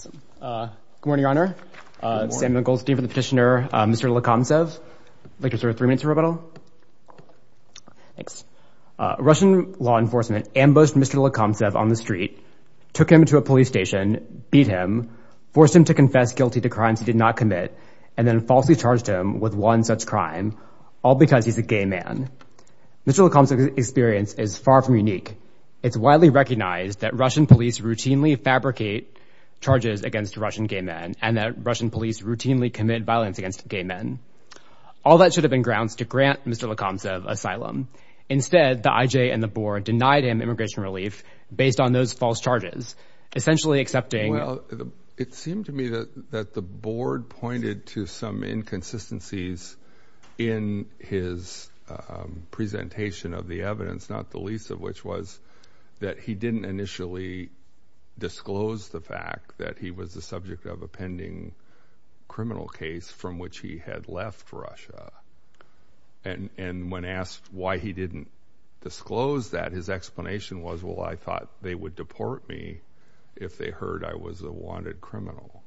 Good morning, Your Honor. Samuel Goldstein for the petitioner. Mr. Lekomtsev, would you like to reserve three minutes for rebuttal? Thanks. Russian law enforcement ambushed Mr. Lekomtsev on the street, took him to a police station, beat him, forced him to confess guilty to crimes he did not commit, and then falsely charged him with one such crime, all because he's a gay man. Mr. Lekomtsev's experience is far from unique. It's widely recognized that Russian police routinely fabricate charges against Russian gay men and that Russian police routinely commit violence against gay men. All that should have been grounds to grant Mr. Lekomtsev asylum. Instead, the IJ and the board denied him immigration relief based on those false charges, essentially accepting— presentation of the evidence, not the least of which was that he didn't initially disclose the fact that he was the subject of a pending criminal case from which he had left Russia. And when asked why he didn't disclose that, his explanation was, well, I thought they would deport me if they heard I was a wanted criminal.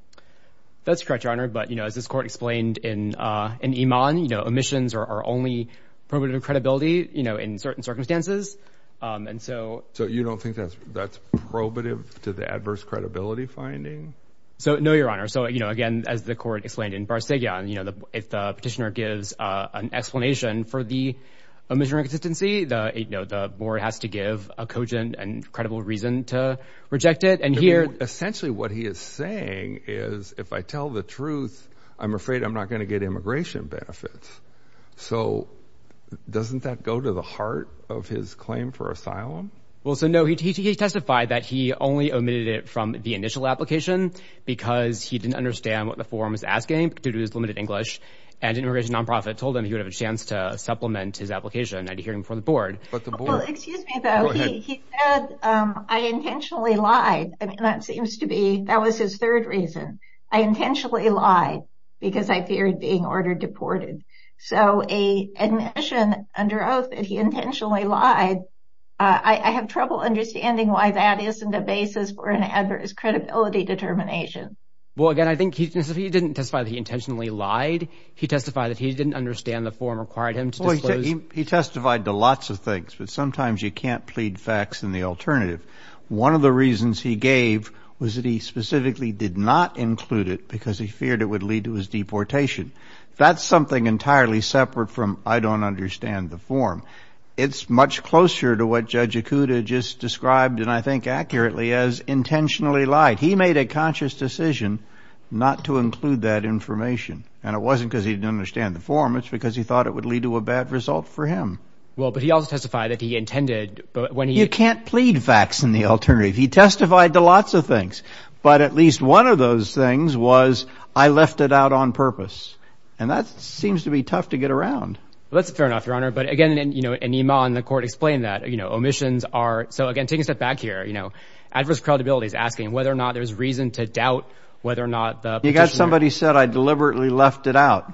That's correct, Your Honor. But, you know, as this court explained in Iman, you know, omissions are only probative of credibility, you know, in certain circumstances. And so— So you don't think that's probative to the adverse credibility finding? So, no, Your Honor. So, you know, again, as the court explained in Barsegian, you know, if the petitioner gives an explanation for the omission or inconsistency, you know, the board has to give a cogent and credible reason to reject it. And here— the board's reasoning is, if I tell the truth, I'm afraid I'm not going to get immigration benefits. So doesn't that go to the heart of his claim for asylum? Well, so, no, he testified that he only omitted it from the initial application because he didn't understand what the form was asking due to his limited English. And an immigration nonprofit told him he would have a chance to supplement his application at a hearing for the board. But the board— I intentionally lied because I feared being ordered deported. So a admission under oath that he intentionally lied, I have trouble understanding why that isn't a basis for an adverse credibility determination. Well, again, I think he didn't testify that he intentionally lied. He testified that he didn't understand the form required him to disclose— Well, he testified to lots of things, but sometimes you can't plead facts in the alternative. One of the reasons he gave was that he specifically did not include it because he feared it would lead to his deportation. That's something entirely separate from, I don't understand the form. It's much closer to what Judge Ikuda just described, and I think accurately, as intentionally lied. He made a conscious decision not to include that information. And it wasn't because he didn't understand the form. It's because he thought it would lead to a bad result for him. Well, but he also testified that he intended— You can't plead facts in the alternative. He testified to lots of things. But at least one of those things was, I left it out on purpose. And that seems to be tough to get around. That's fair enough, Your Honor. But, again, in Iman, the court explained that, you know, omissions are— So, again, taking a step back here, you know, adverse credibility is asking whether or not there's reason to doubt whether or not the petitioner— You got somebody who said, I deliberately left it out.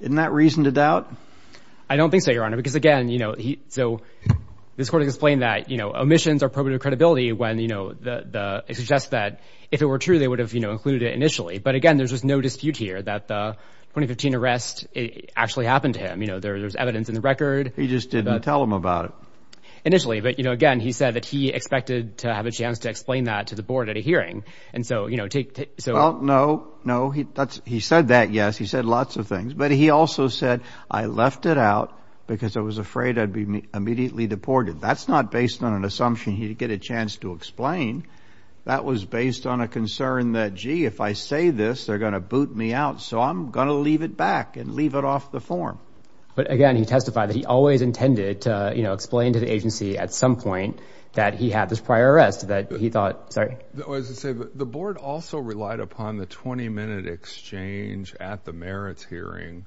Isn't that reason to doubt? I don't think so, Your Honor. Because, again, you know, so this court explained that, you know, omissions are probative credibility when, you know, it suggests that if it were true, they would have, you know, included it initially. But, again, there's just no dispute here that the 2015 arrest actually happened to him. You know, there's evidence in the record. He just didn't tell him about it. Initially. But, you know, again, he said that he expected to have a chance to explain that to the board at a hearing. And so, you know, take— Well, no, no. He said that, yes. He said lots of things. But he also said, I left it out because I was afraid I'd be immediately deported. That's not based on an assumption he'd get a chance to explain. That was based on a concern that, gee, if I say this, they're going to boot me out, so I'm going to leave it back and leave it off the form. But, again, he testified that he always intended to, you know, explain to the agency at some point that he had this prior arrest that he thought— Sorry. I was going to say, the board also relied upon the 20-minute exchange at the merits hearing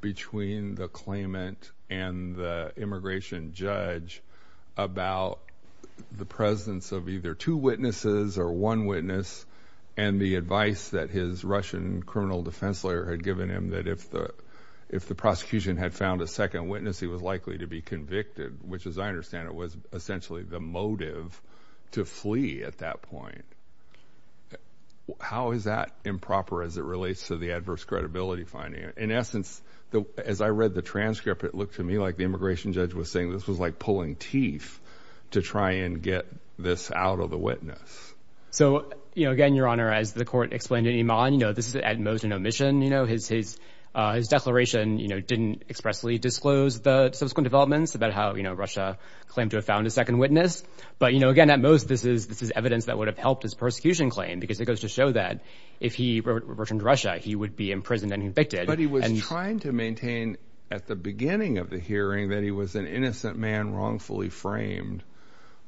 between the claimant and the immigration judge about the presence of either two witnesses or one witness and the advice that his Russian criminal defense lawyer had given him that if the prosecution had found a second witness, he was likely to be convicted, which, as I understand it, was essentially the motive to flee at that point. How is that improper as it relates to the adverse credibility finding? In essence, as I read the transcript, it looked to me like the immigration judge was saying this was like pulling teeth to try and get this out of the witness. So, you know, again, Your Honor, as the court explained to Iman, you know, this is at most an omission. You know, his declaration, you know, didn't expressly disclose the subsequent developments about how, you know, Russia claimed to have found a second witness. But, you know, again, at most, this is evidence that would have helped his persecution claim because it goes to show that if he returned to Russia, he would be imprisoned and convicted. But he was trying to maintain at the beginning of the hearing that he was an innocent man wrongfully framed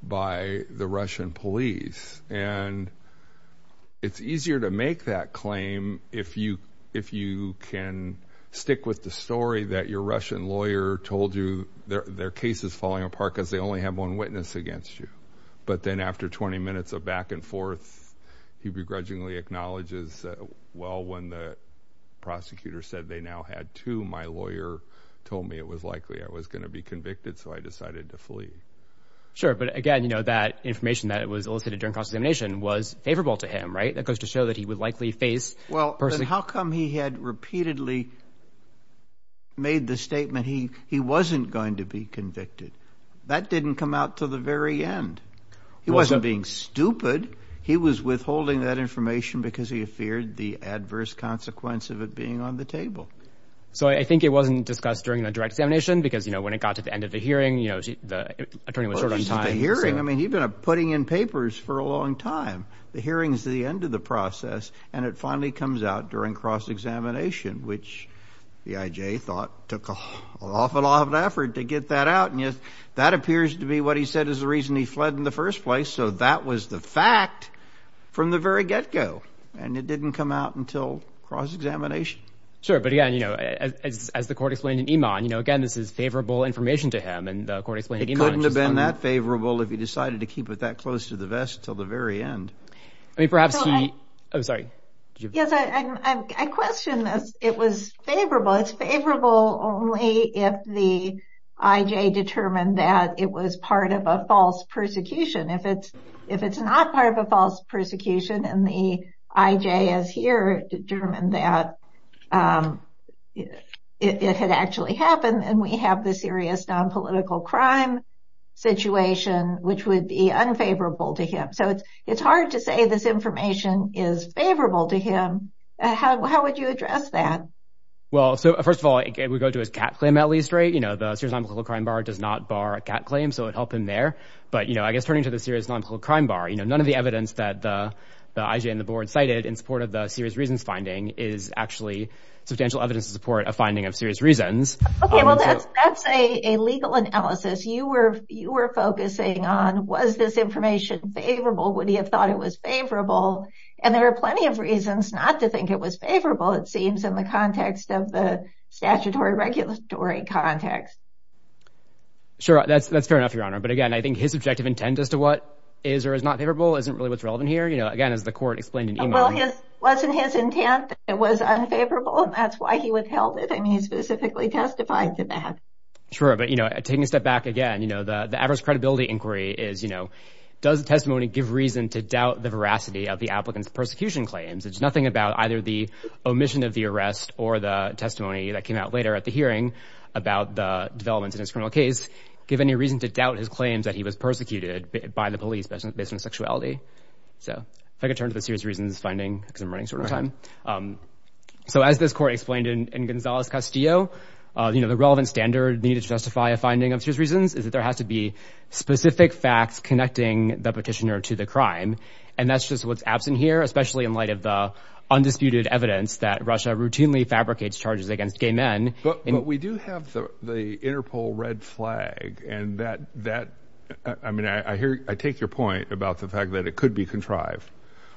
by the Russian police. And it's easier to make that claim if you if you can stick with the story that your Russian lawyer told you their case is falling apart because they only have one witness against you. But then after 20 minutes of back and forth, he begrudgingly acknowledges. Well, when the prosecutor said they now had to, my lawyer told me it was likely I was going to be convicted. So I decided to flee. Sure. But again, you know, that information that was elicited during examination was favorable to him. Right. That goes to show that he would likely face. Well, how come he had repeatedly. Made the statement he he wasn't going to be convicted, that didn't come out to the very end. He wasn't being stupid. He was withholding that information because he feared the adverse consequence of it being on the table. So I think it wasn't discussed during the direct examination because, you know, when it got to the end of the hearing, you know, the attorney was short on time. I mean, he'd been putting in papers for a long time. The hearing is the end of the process. And it finally comes out during cross-examination, which the IJ thought took an awful lot of effort to get that out. And yet that appears to be what he said is the reason he fled in the first place. So that was the fact from the very get go. And it didn't come out until cross-examination. Sure. But again, you know, as the court explained in Iman, you know, again, this is favorable information to him. It couldn't have been that favorable if he decided to keep it that close to the vest until the very end. I mean, perhaps he I'm sorry. Yes, I question this. It was favorable. It's favorable only if the IJ determined that it was part of a false persecution. If it's if it's not part of a false persecution and the IJ is here determined that it had actually happened. And we have this serious nonpolitical crime situation, which would be unfavorable to him. So it's hard to say this information is favorable to him. How would you address that? Well, so first of all, we go to his cat claim at least, right? You know, the Serious Nonpolitical Crime Bar does not bar a cat claim. So it helped him there. But, you know, I guess turning to the Serious Nonpolitical Crime Bar, you know, none of the evidence that the IJ and the board cited in support of the serious reasons finding is actually substantial evidence to support a finding of serious reasons. OK, well, that's that's a legal analysis you were you were focusing on. Was this information favorable? Would he have thought it was favorable? And there are plenty of reasons not to think it was favorable, it seems, in the context of the statutory regulatory context. Sure, that's that's fair enough, Your Honor. But again, I think his objective intent as to what is or is not favorable isn't really what's relevant here. You know, again, as the court explained, it wasn't his intent. It was unfavorable. And that's why he withheld it. I mean, he specifically testified to that. Sure. But, you know, taking a step back again, you know, the the average credibility inquiry is, you know, does testimony give reason to doubt the veracity of the applicant's persecution claims? It's nothing about either the omission of the arrest or the testimony that came out later at the hearing about the developments in his criminal case. Give any reason to doubt his claims that he was persecuted by the police based on sexuality. So if I could turn to the serious reasons finding because I'm running short on time. So as this court explained in Gonzales Castillo, you know, the relevant standard needed to justify a finding of serious reasons is that there has to be specific facts connecting the petitioner to the crime. And that's just what's absent here, especially in light of the undisputed evidence that Russia routinely fabricates charges against gay men. But we do have the Interpol red flag and that that I mean, I hear I take your point about the fact that it could be contrived,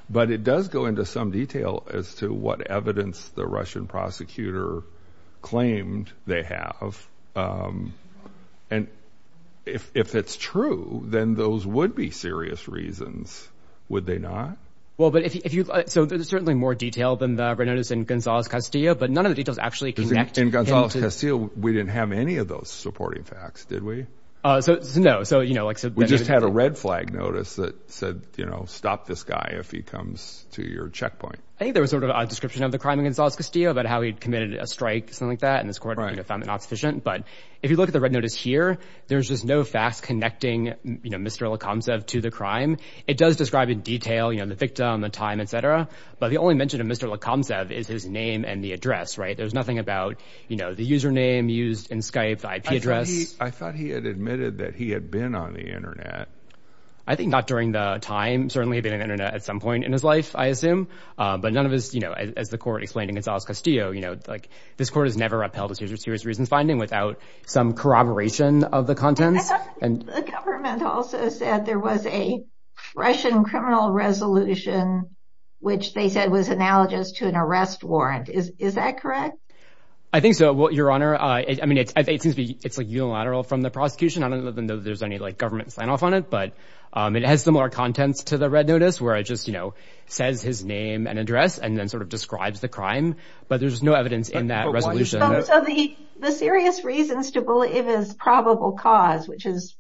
but it does go into some detail as to what evidence the Russian prosecutor claimed they have. And if it's true, then those would be serious reasons, would they not? Well, but if you so there's certainly more detail than the red notice in Gonzales Castillo, but none of the details actually connect. In Gonzales Castillo, we didn't have any of those supporting facts, did we? So no. So, you know, like we just had a red flag notice that said, you know, stop this guy if he comes to your checkpoint. I think there was sort of a description of the crime in Gonzales Castillo about how he'd committed a strike, something like that. And this court found that not sufficient. But if you look at the red notice here, there's just no facts connecting Mr. Lacombe said to the crime. It does describe in detail, you know, the victim, the time, et cetera. But the only mention of Mr. Lacombe said is his name and the address. Right. There's nothing about, you know, the username used in Skype, IP address. I thought he had admitted that he had been on the Internet. I think not during the time. Certainly had been an Internet at some point in his life, I assume. But none of us, you know, as the court explained in Gonzales Castillo, you know, like this court has never upheld a serious reason finding without some corroboration of the contents. And the government also said there was a Russian criminal resolution, which they said was analogous to an arrest warrant. Is that correct? I think so. Well, Your Honor, I mean, it seems to be it's like unilateral from the prosecution. I don't know that there's any government sign off on it, but it has similar contents to the red notice where it just, you know, says his name and address and then sort of describes the crime. But there's no evidence in that resolution. So the serious reasons to believe is probable cause, which is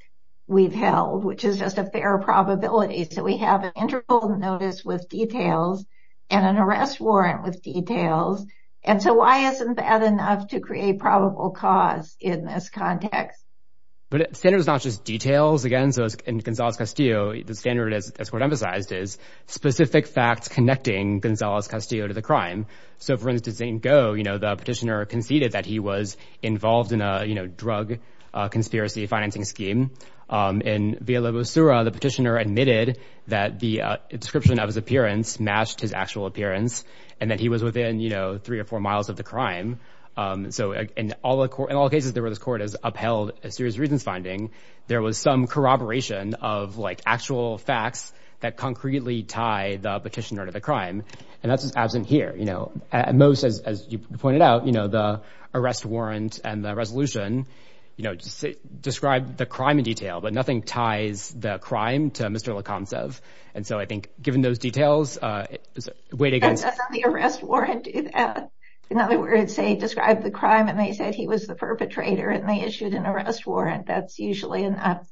we've held, which is just a fair probability. So we have an interval notice with details and an arrest warrant with details. And so why isn't that enough to create probable cause in this context? But it's not just details again. So in Gonzales Castillo, the standard is, as court emphasized, is specific facts connecting Gonzales Castillo to the crime. So for instance, in Go, you know, the petitioner conceded that he was involved in a drug conspiracy financing scheme. In Villalobosura, the petitioner admitted that the description of his appearance matched his actual appearance and that he was within, you know, three or four miles of the crime. So in all the court, in all cases, there were those court has upheld a serious reasons finding. There was some corroboration of, like, actual facts that concretely tie the petitioner to the crime. And that's absent here. You know, most, as you pointed out, you know, the arrest warrant and the resolution, you know, describe the crime in detail. But nothing ties the crime to Mr. Likhansev. And so I think given those details, it's a way to get the arrest warrant. In other words, they describe the crime and they said he was the perpetrator and they issued an arrest warrant. That's usually enough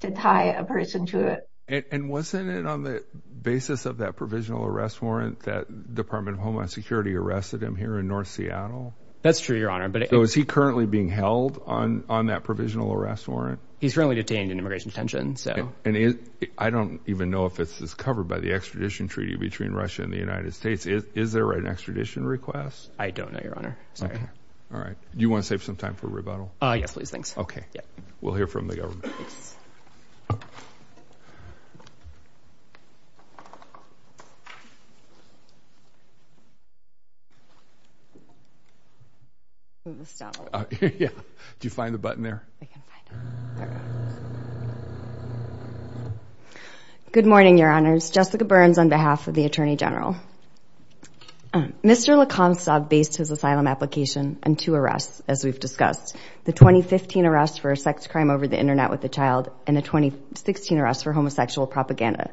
to tie a person to it. And wasn't it on the basis of that provisional arrest warrant that Department of Homeland Security arrested him here in North Seattle? That's true, Your Honor. So is he currently being held on that provisional arrest warrant? He's currently detained in immigration detention. I don't even know if it's covered by the extradition treaty between Russia and the United States. Is there an extradition request? I don't know, Your Honor. All right. Do you want to save some time for rebuttal? Yes, please. Thanks. OK. We'll hear from the government. Do you find the button there? Good morning, Your Honors. Jessica Burns on behalf of the Attorney General. Mr. Likhansev based his asylum application on two arrests, as we've discussed. The 2015 arrest for a sex crime over the internet with a child and the 2016 arrest for homosexual propaganda.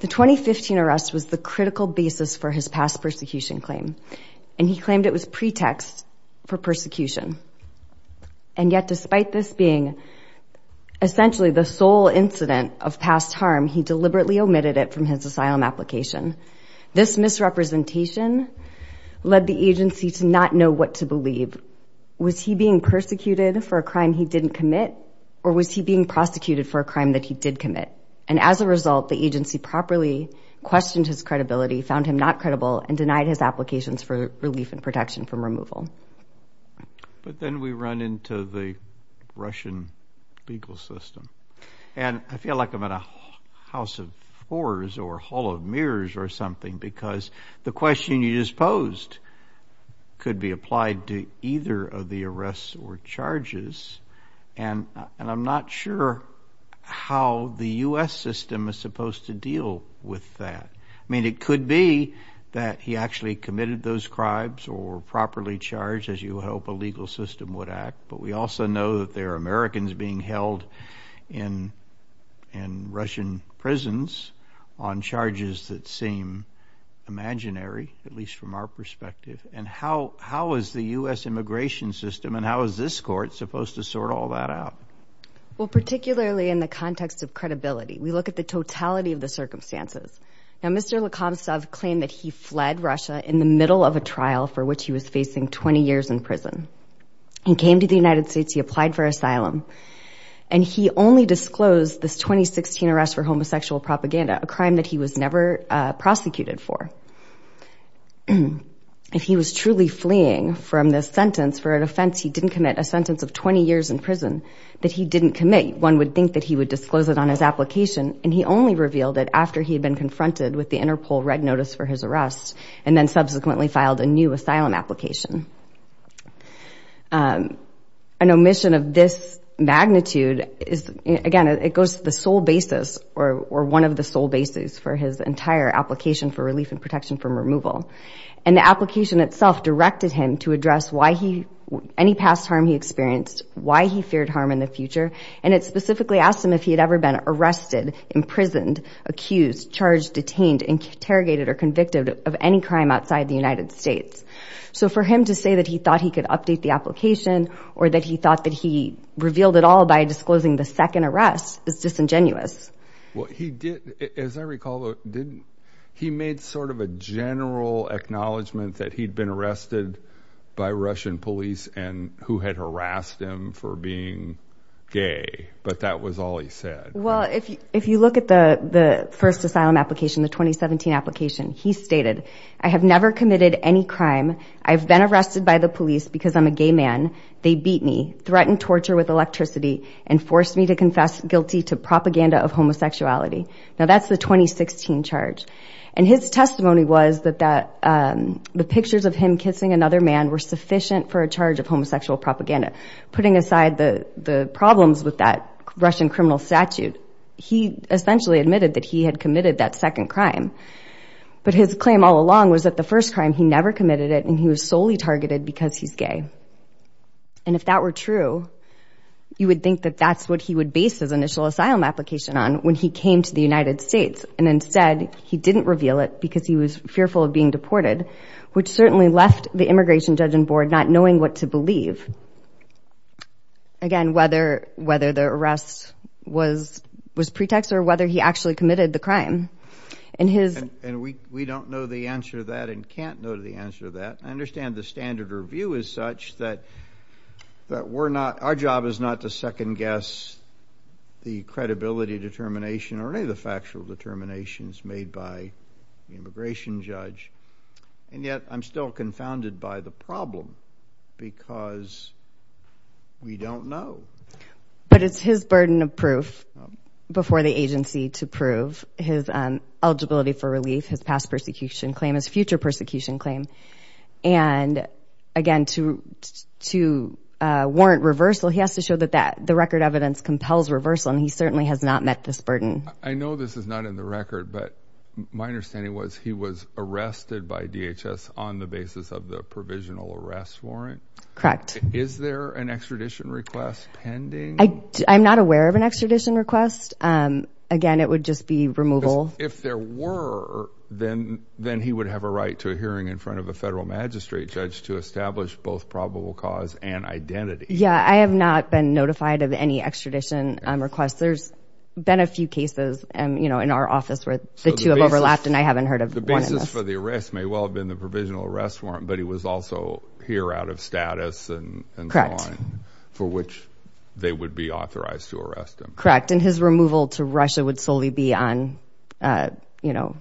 The 2015 arrest was the critical basis for his past persecution claim. And he claimed it was pretext for persecution. And yet despite this being essentially the sole incident of past harm, he deliberately omitted it from his asylum application. This misrepresentation led the agency to not know what to believe. Was he being persecuted for a crime he didn't commit? Or was he being prosecuted for a crime that he did commit? And as a result, the agency properly questioned his credibility, found him not credible, and denied his applications for relief and protection from removal. But then we run into the Russian legal system. And I feel like I'm in a house of whores or hall of mirrors or something because the question you just posed could be applied to either of the arrests or charges. And I'm not sure how the U.S. system is supposed to deal with that. I mean, it could be that he actually committed those crimes or properly charged, as you hope a legal system would act. But we also know that there are Americans being held in Russian prisons on charges that seem imaginary, at least from our perspective. And how is the U.S. immigration system and how is this court supposed to sort all that out? Well, particularly in the context of credibility, we look at the totality of the circumstances. Now, Mr. Lakomstov claimed that he fled Russia in the middle of a trial for which he was facing 20 years in prison. He came to the United States. He applied for asylum. And he only disclosed this 2016 arrest for homosexual propaganda, a crime that he was never prosecuted for. If he was truly fleeing from this sentence for an offense he didn't commit, a sentence of 20 years in prison that he didn't commit, one would think that he would disclose it on his application. And he only revealed it after he had been confronted with the Interpol red notice for his arrest and then subsequently filed a new asylum application. An omission of this magnitude is, again, it goes to the sole basis or one of the sole bases for his entire application for relief and protection from removal. And the application itself directed him to address any past harm he experienced, why he feared harm in the future. And it specifically asked him if he had ever been arrested, imprisoned, accused, charged, detained, interrogated, or convicted of any crime outside the United States. So for him to say that he thought he could update the application or that he thought that he revealed it all by disclosing the second arrest is disingenuous. Well, he did. As I recall, he made sort of a general acknowledgement that he'd been arrested by Russian police and who had harassed him for being gay. But that was all he said. Well, if you look at the first asylum application, the 2017 application, he stated, I have never committed any crime. I've been arrested by the police because I'm a gay man. They beat me, threatened torture with electricity, and forced me to confess guilty to propaganda of homosexuality. Now, that's the 2016 charge. And his testimony was that the pictures of him kissing another man were sufficient for a charge of homosexual propaganda. Putting aside the problems with that Russian criminal statute, he essentially admitted that he had committed that second crime. But his claim all along was that the first crime, he never committed it, and he was solely targeted because he's gay. And if that were true, you would think that that's what he would base his initial asylum application on when he came to the United States. And instead, he didn't reveal it because he was fearful of being deported, which certainly left the immigration judge on board not knowing what to believe. Again, whether the arrest was pretext or whether he actually committed the crime. And we don't know the answer to that and can't know the answer to that. I understand the standard review is such that our job is not to second-guess the credibility determination or any of the factual determinations made by the immigration judge. And yet, I'm still confounded by the problem because we don't know. But it's his burden of proof before the agency to prove his eligibility for relief, his past persecution claim, his future persecution claim. And again, to warrant reversal, he has to show that the record evidence compels reversal, and he certainly has not met this burden. I know this is not in the record, but my understanding was he was arrested by DHS on the basis of the provisional arrest warrant. Correct. Is there an extradition request pending? I'm not aware of an extradition request. Again, it would just be removal. If there were, then he would have a right to a hearing in front of a federal magistrate judge to establish both probable cause and identity. Yeah, I have not been notified of any extradition requests. There's been a few cases in our office where the two have overlapped, and I haven't heard of one in this. The basis for the arrest may well have been the provisional arrest warrant, but he was also here out of status and so on, for which they would be authorized to arrest him. Correct, and his removal to Russia would solely be on, you know,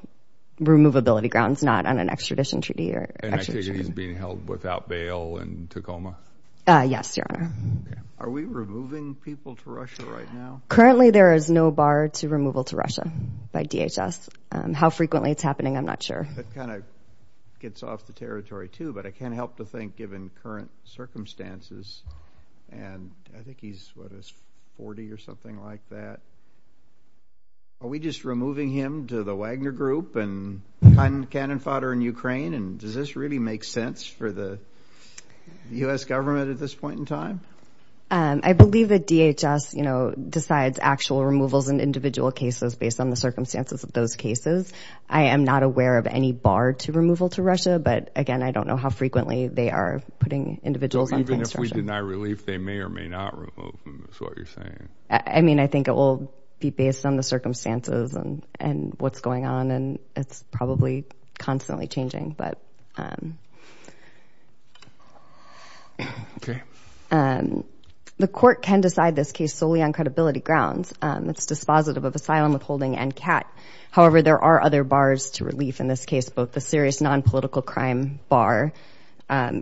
removability grounds, not on an extradition treaty or extradition. And I take it he's being held without bail in Tacoma? Yes, Your Honor. Are we removing people to Russia right now? Currently, there is no bar to removal to Russia by DHS. How frequently it's happening, I'm not sure. That kind of gets off the territory, too, but I can't help but think, given current circumstances, and I think he's, what, 40 or something like that. Are we just removing him to the Wagner Group and cannon fodder in Ukraine, and does this really make sense for the U.S. government at this point in time? I believe that DHS, you know, decides actual removals in individual cases based on the circumstances of those cases. I am not aware of any bar to removal to Russia, but, again, I don't know how frequently they are putting individuals on construction. So even if we deny relief, they may or may not remove him is what you're saying? I mean, I think it will be based on the circumstances and what's going on, and it's probably constantly changing. The court can decide this case solely on credibility grounds. It's dispositive of asylum withholding and CAT. However, there are other bars to relief in this case, both the serious nonpolitical crime bar.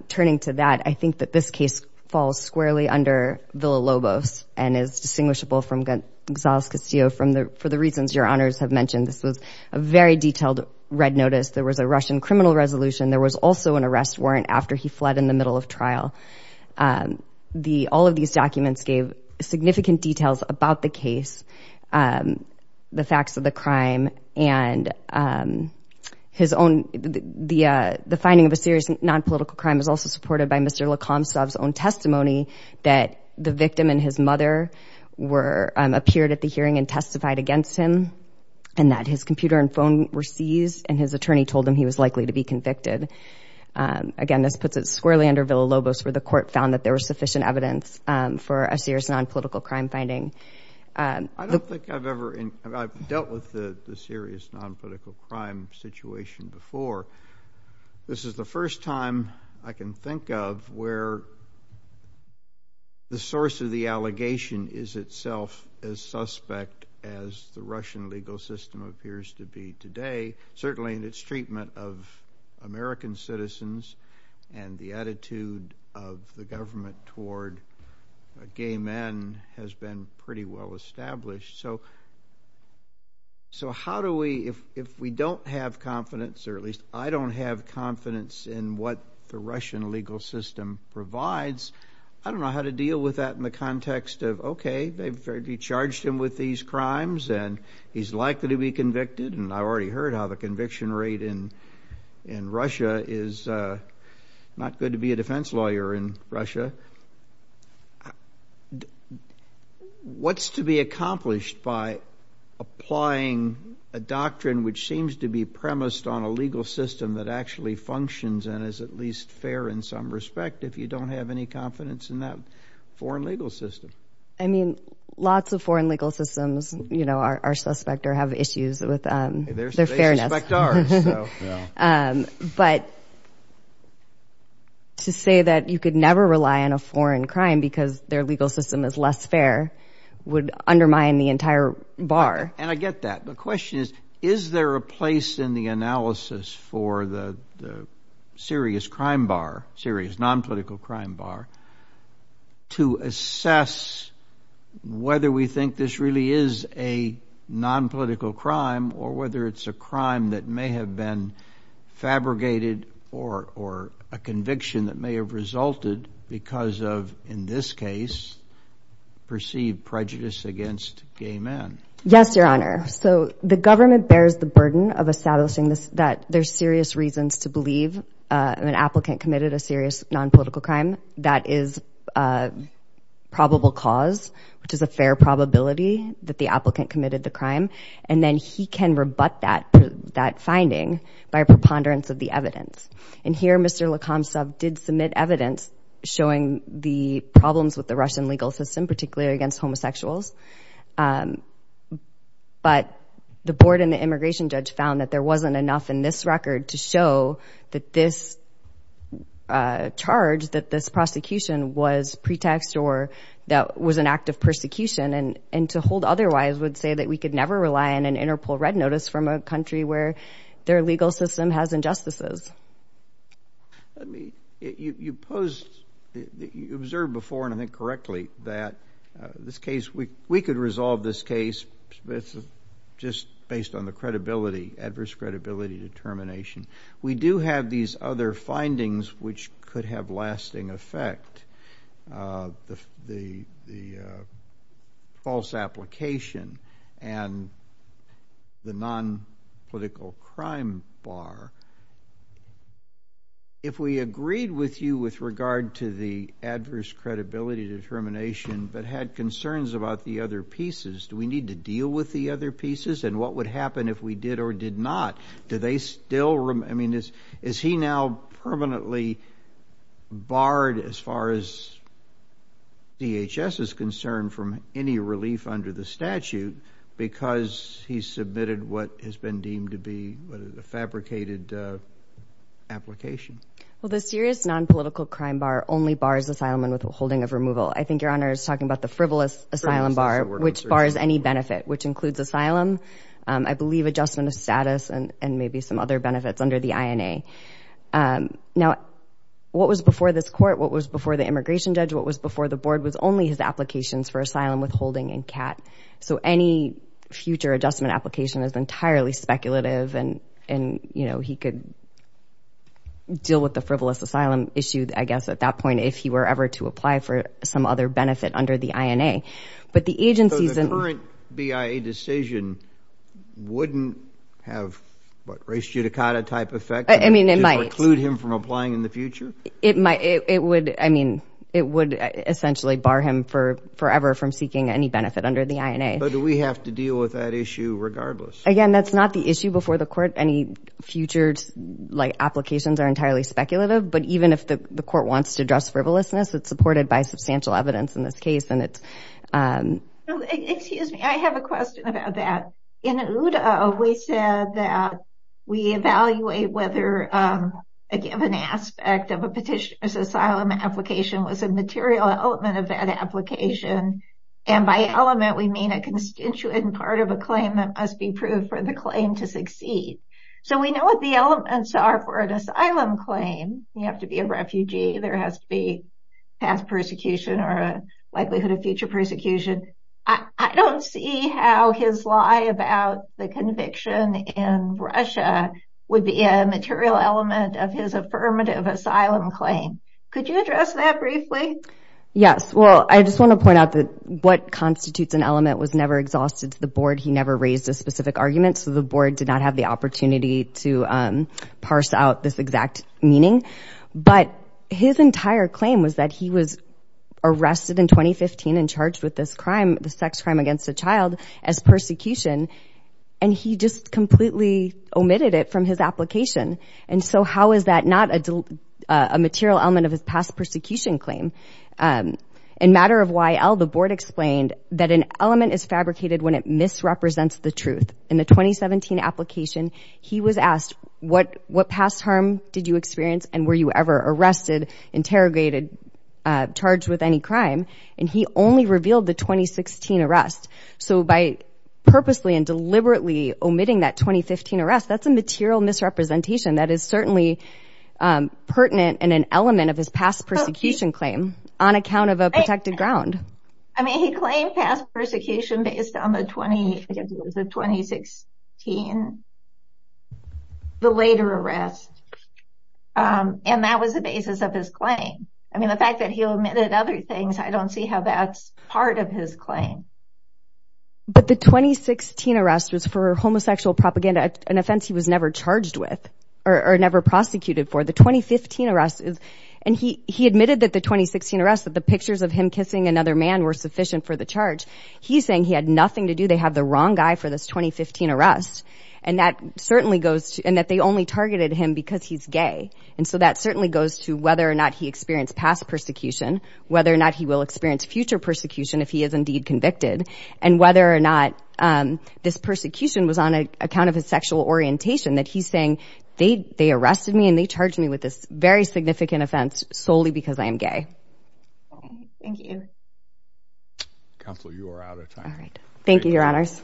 Turning to that, I think that this case falls squarely under Villa Lobos and is distinguishable from Gonzales Castillo for the reasons your honors have mentioned. This was a very detailed red notice. There was a Russian criminal resolution. There was also an arrest warrant after he fled in the middle of trial. All of these documents gave significant details about the case, the facts of the crime, and the finding of a serious nonpolitical crime is also supported by Mr. Lakomstov's own testimony that the victim and his mother appeared at the hearing and testified against him and that his computer and phone were seized and his attorney told him he was likely to be convicted. Again, this puts it squarely under Villa Lobos where the court found that there was sufficient evidence for a serious nonpolitical crime finding. I don't think I've ever dealt with the serious nonpolitical crime situation before. This is the first time I can think of where the source of the allegation is itself as suspect as the Russian legal system appears to be today, certainly in its treatment of American citizens and the attitude of the government toward gay men has been pretty well established. So how do we, if we don't have confidence, or at least I don't have confidence in what the Russian legal system provides, I don't know how to deal with that in the context of, okay, they've charged him with these crimes and he's likely to be convicted and I've already heard how the conviction rate in Russia is not good to be a defense lawyer in Russia. What's to be accomplished by applying a doctrine which seems to be premised on a legal system that actually functions and is at least fair in some respect if you don't have any confidence in that foreign legal system? I mean, lots of foreign legal systems are suspect or have issues with their fairness. They suspect ours. But to say that you could never rely on a foreign crime because their legal system is less fair would undermine the entire bar. And I get that. The question is, is there a place in the analysis for the serious crime bar, serious nonpolitical crime bar, to assess whether we think this really is a nonpolitical crime or whether it's a crime that may have been fabricated or a conviction that may have resulted because of, in this case, perceived prejudice against gay men? Yes, Your Honor. So the government bears the burden of establishing that there's serious reasons to believe an applicant committed a serious nonpolitical crime. That is probable cause, which is a fair probability that the applicant committed the crime. And then he can rebut that finding by a preponderance of the evidence. And here Mr. Lakomsov did submit evidence showing the problems with the Russian legal system, particularly against homosexuals. But the board and the immigration judge found that there wasn't enough in this record to show that this charge, that this prosecution was pretext or that was an act of persecution. And to hold otherwise would say that we could never rely on an Interpol red notice from a country where their legal system has injustices. You observed before, and I think correctly, that this case, we could resolve this case just based on the credibility, adverse credibility determination. We do have these other findings which could have lasting effect, the false application and the nonpolitical crime bar. If we agreed with you with regard to the adverse credibility determination but had concerns about the other pieces, do we need to deal with the other pieces? And what would happen if we did or did not? I mean, is he now permanently barred as far as DHS is concerned from any relief under the statute because he submitted what has been deemed to be a fabricated application? Well, the serious nonpolitical crime bar only bars asylum and withholding of removal. I think Your Honor is talking about the frivolous asylum bar, which bars any benefit, which includes asylum. I believe adjustment of status and maybe some other benefits under the INA. Now, what was before this court, what was before the immigration judge, what was before the board was only his applications for asylum, withholding and CAT. So any future adjustment application is entirely speculative and he could deal with the frivolous asylum issue, I guess, at that point, if he were ever to apply for some other benefit under the INA. So the current BIA decision wouldn't have what, race judicata type effect? I mean, it might. To preclude him from applying in the future? It would essentially bar him forever from seeking any benefit under the INA. But do we have to deal with that issue regardless? Again, that's not the issue before the court. Any future applications are entirely speculative, but even if the court wants to address frivolousness, it's supported by substantial evidence in this case Excuse me, I have a question about that. In OODA, we said that we evaluate whether a given aspect of a petitioner's asylum application was a material element of that application. And by element, we mean a constituent part of a claim that must be proved for the claim to succeed. So we know what the elements are for an asylum claim. You have to be a refugee. There has to be past persecution or a likelihood of future persecution. I don't see how his lie about the conviction in Russia would be a material element of his affirmative asylum claim. Could you address that briefly? Yes. Well, I just want to point out that what constitutes an element was never exhausted to the board. He never raised a specific argument, so the board did not have the opportunity to parse out this exact meaning. But his entire claim was that he was arrested in 2015 and charged with this crime, the sex crime against a child, as persecution. And he just completely omitted it from his application. And so how is that not a material element of his past persecution claim? In matter of YL, the board explained that an element is fabricated when it misrepresents the truth. In the 2017 application, he was asked, what past harm did you experience and were you ever arrested, interrogated, charged with any crime? And he only revealed the 2016 arrest. So by purposely and deliberately omitting that 2015 arrest, that's a material misrepresentation that is certainly pertinent and an element of his past persecution claim on account of a protected ground. I mean, he claimed past persecution based on the 2016, the later arrest. And that was the basis of his claim. I mean, the fact that he omitted other things, I don't see how that's part of his claim. But the 2016 arrest was for homosexual propaganda, an offense he was never charged with or never prosecuted for. The 2015 arrest, and he admitted that the 2016 arrest, that the pictures of him kissing another man were sufficient for the charge. He's saying he had nothing to do, they have the wrong guy for this 2015 arrest. And that certainly goes to, and that they only targeted him because he's gay. And so that certainly goes to whether or not he experienced past persecution, whether or not he will experience future persecution if he is indeed convicted, and whether or not this persecution was on account of his sexual orientation, that he's saying they arrested me and they charged me with this very significant offense solely because I am gay. Thank you. Counselor, you are out of time. Thank you, Your Honors.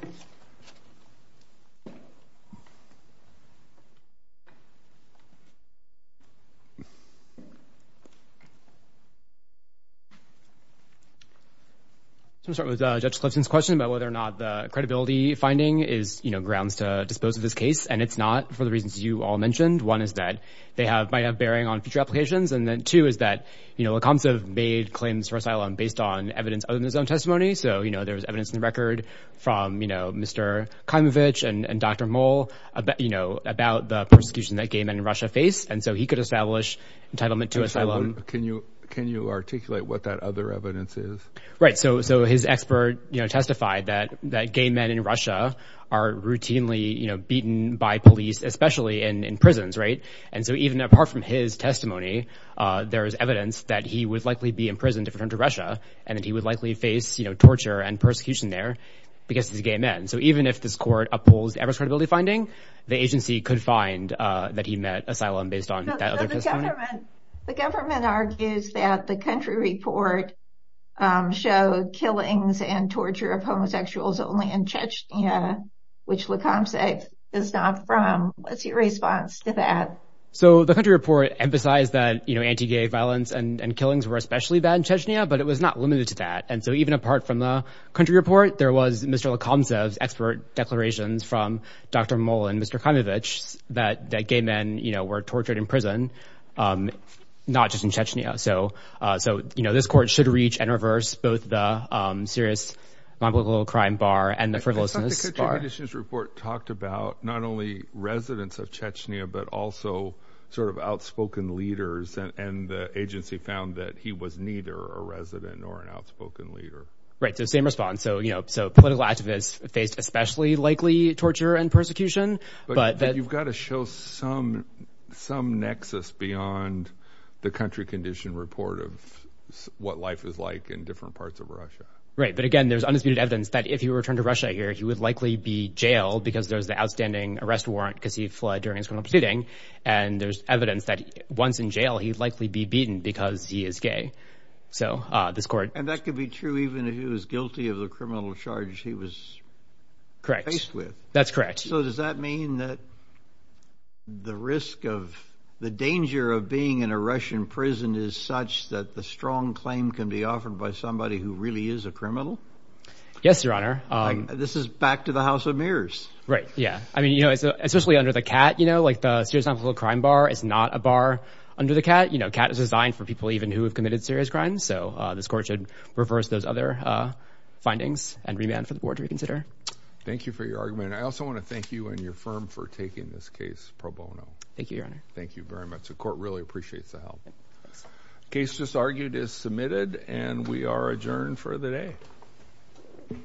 I'm going to start with Judge Clifton's question about whether or not the credibility finding is grounds to dispose of this case. And it's not for the reasons you all mentioned. One is that they might have bearing on future applications. And then two is that LaCombe made claims for asylum based on evidence other than his own testimony. So there was evidence in the record from Mr. Khamovich and Dr. Moll about the persecution that gay men in Russia face. And so he could establish entitlement to asylum. Can you articulate what that other evidence is? Right. So his expert testified that gay men in Russia are routinely beaten by police, especially in prisons, right? And so even apart from his testimony, there is evidence that he would likely be imprisoned if returned to Russia and that he would likely face torture and persecution there because he's a gay man. So even if this court upholds the average credibility finding, the agency could find that he met asylum based on that other testimony. The government argues that the country report showed killings and torture of homosexuals only in Chechnya, which LaCombe said is not from. What's your response to that? So the country report emphasized that, you know, anti-gay violence and killings were especially bad in Chechnya, but it was not limited to that. And so even apart from the country report, there was Mr. LaCombe's expert declarations from Dr. Moll and Mr. Khamovich that gay men, you know, were tortured in prison, not just in Chechnya. So, you know, this court should reach and reverse both the serious non-political crime bar and the frivolousness bar. I thought the country conditions report talked about not only residents of Chechnya, but also sort of outspoken leaders. And the agency found that he was neither a resident nor an outspoken leader. Right, so same response. So, you know, so political activists faced especially likely torture and persecution. But you've got to show some nexus beyond the country condition report of what life is like in different parts of Russia. Right, but again, there's undisputed evidence that if he were to return to Russia here, he would likely be jailed because there's the outstanding arrest warrant because he fled during his criminal proceeding. And there's evidence that once in jail, he'd likely be beaten because he is gay. So this court. And that could be true even if he was guilty of the criminal charges he was faced with. Correct, that's correct. So does that mean that the risk of the danger of being in a Russian prison is such that the strong claim can be offered by somebody who really is a criminal? Yes, Your Honor. This is back to the House of Mirrors. Right, yeah. I mean, you know, especially under the CAT, you know, like the serious non-political crime bar is not a bar under the CAT. You know, CAT is designed for people even who have committed serious crimes. So this court should reverse those other findings and remand for the board to reconsider. Thank you for your argument. I also want to thank you and your firm for taking this case pro bono. Thank you, Your Honor. Thank you very much. The court really appreciates the help. Case just argued is submitted and we are adjourned for the day.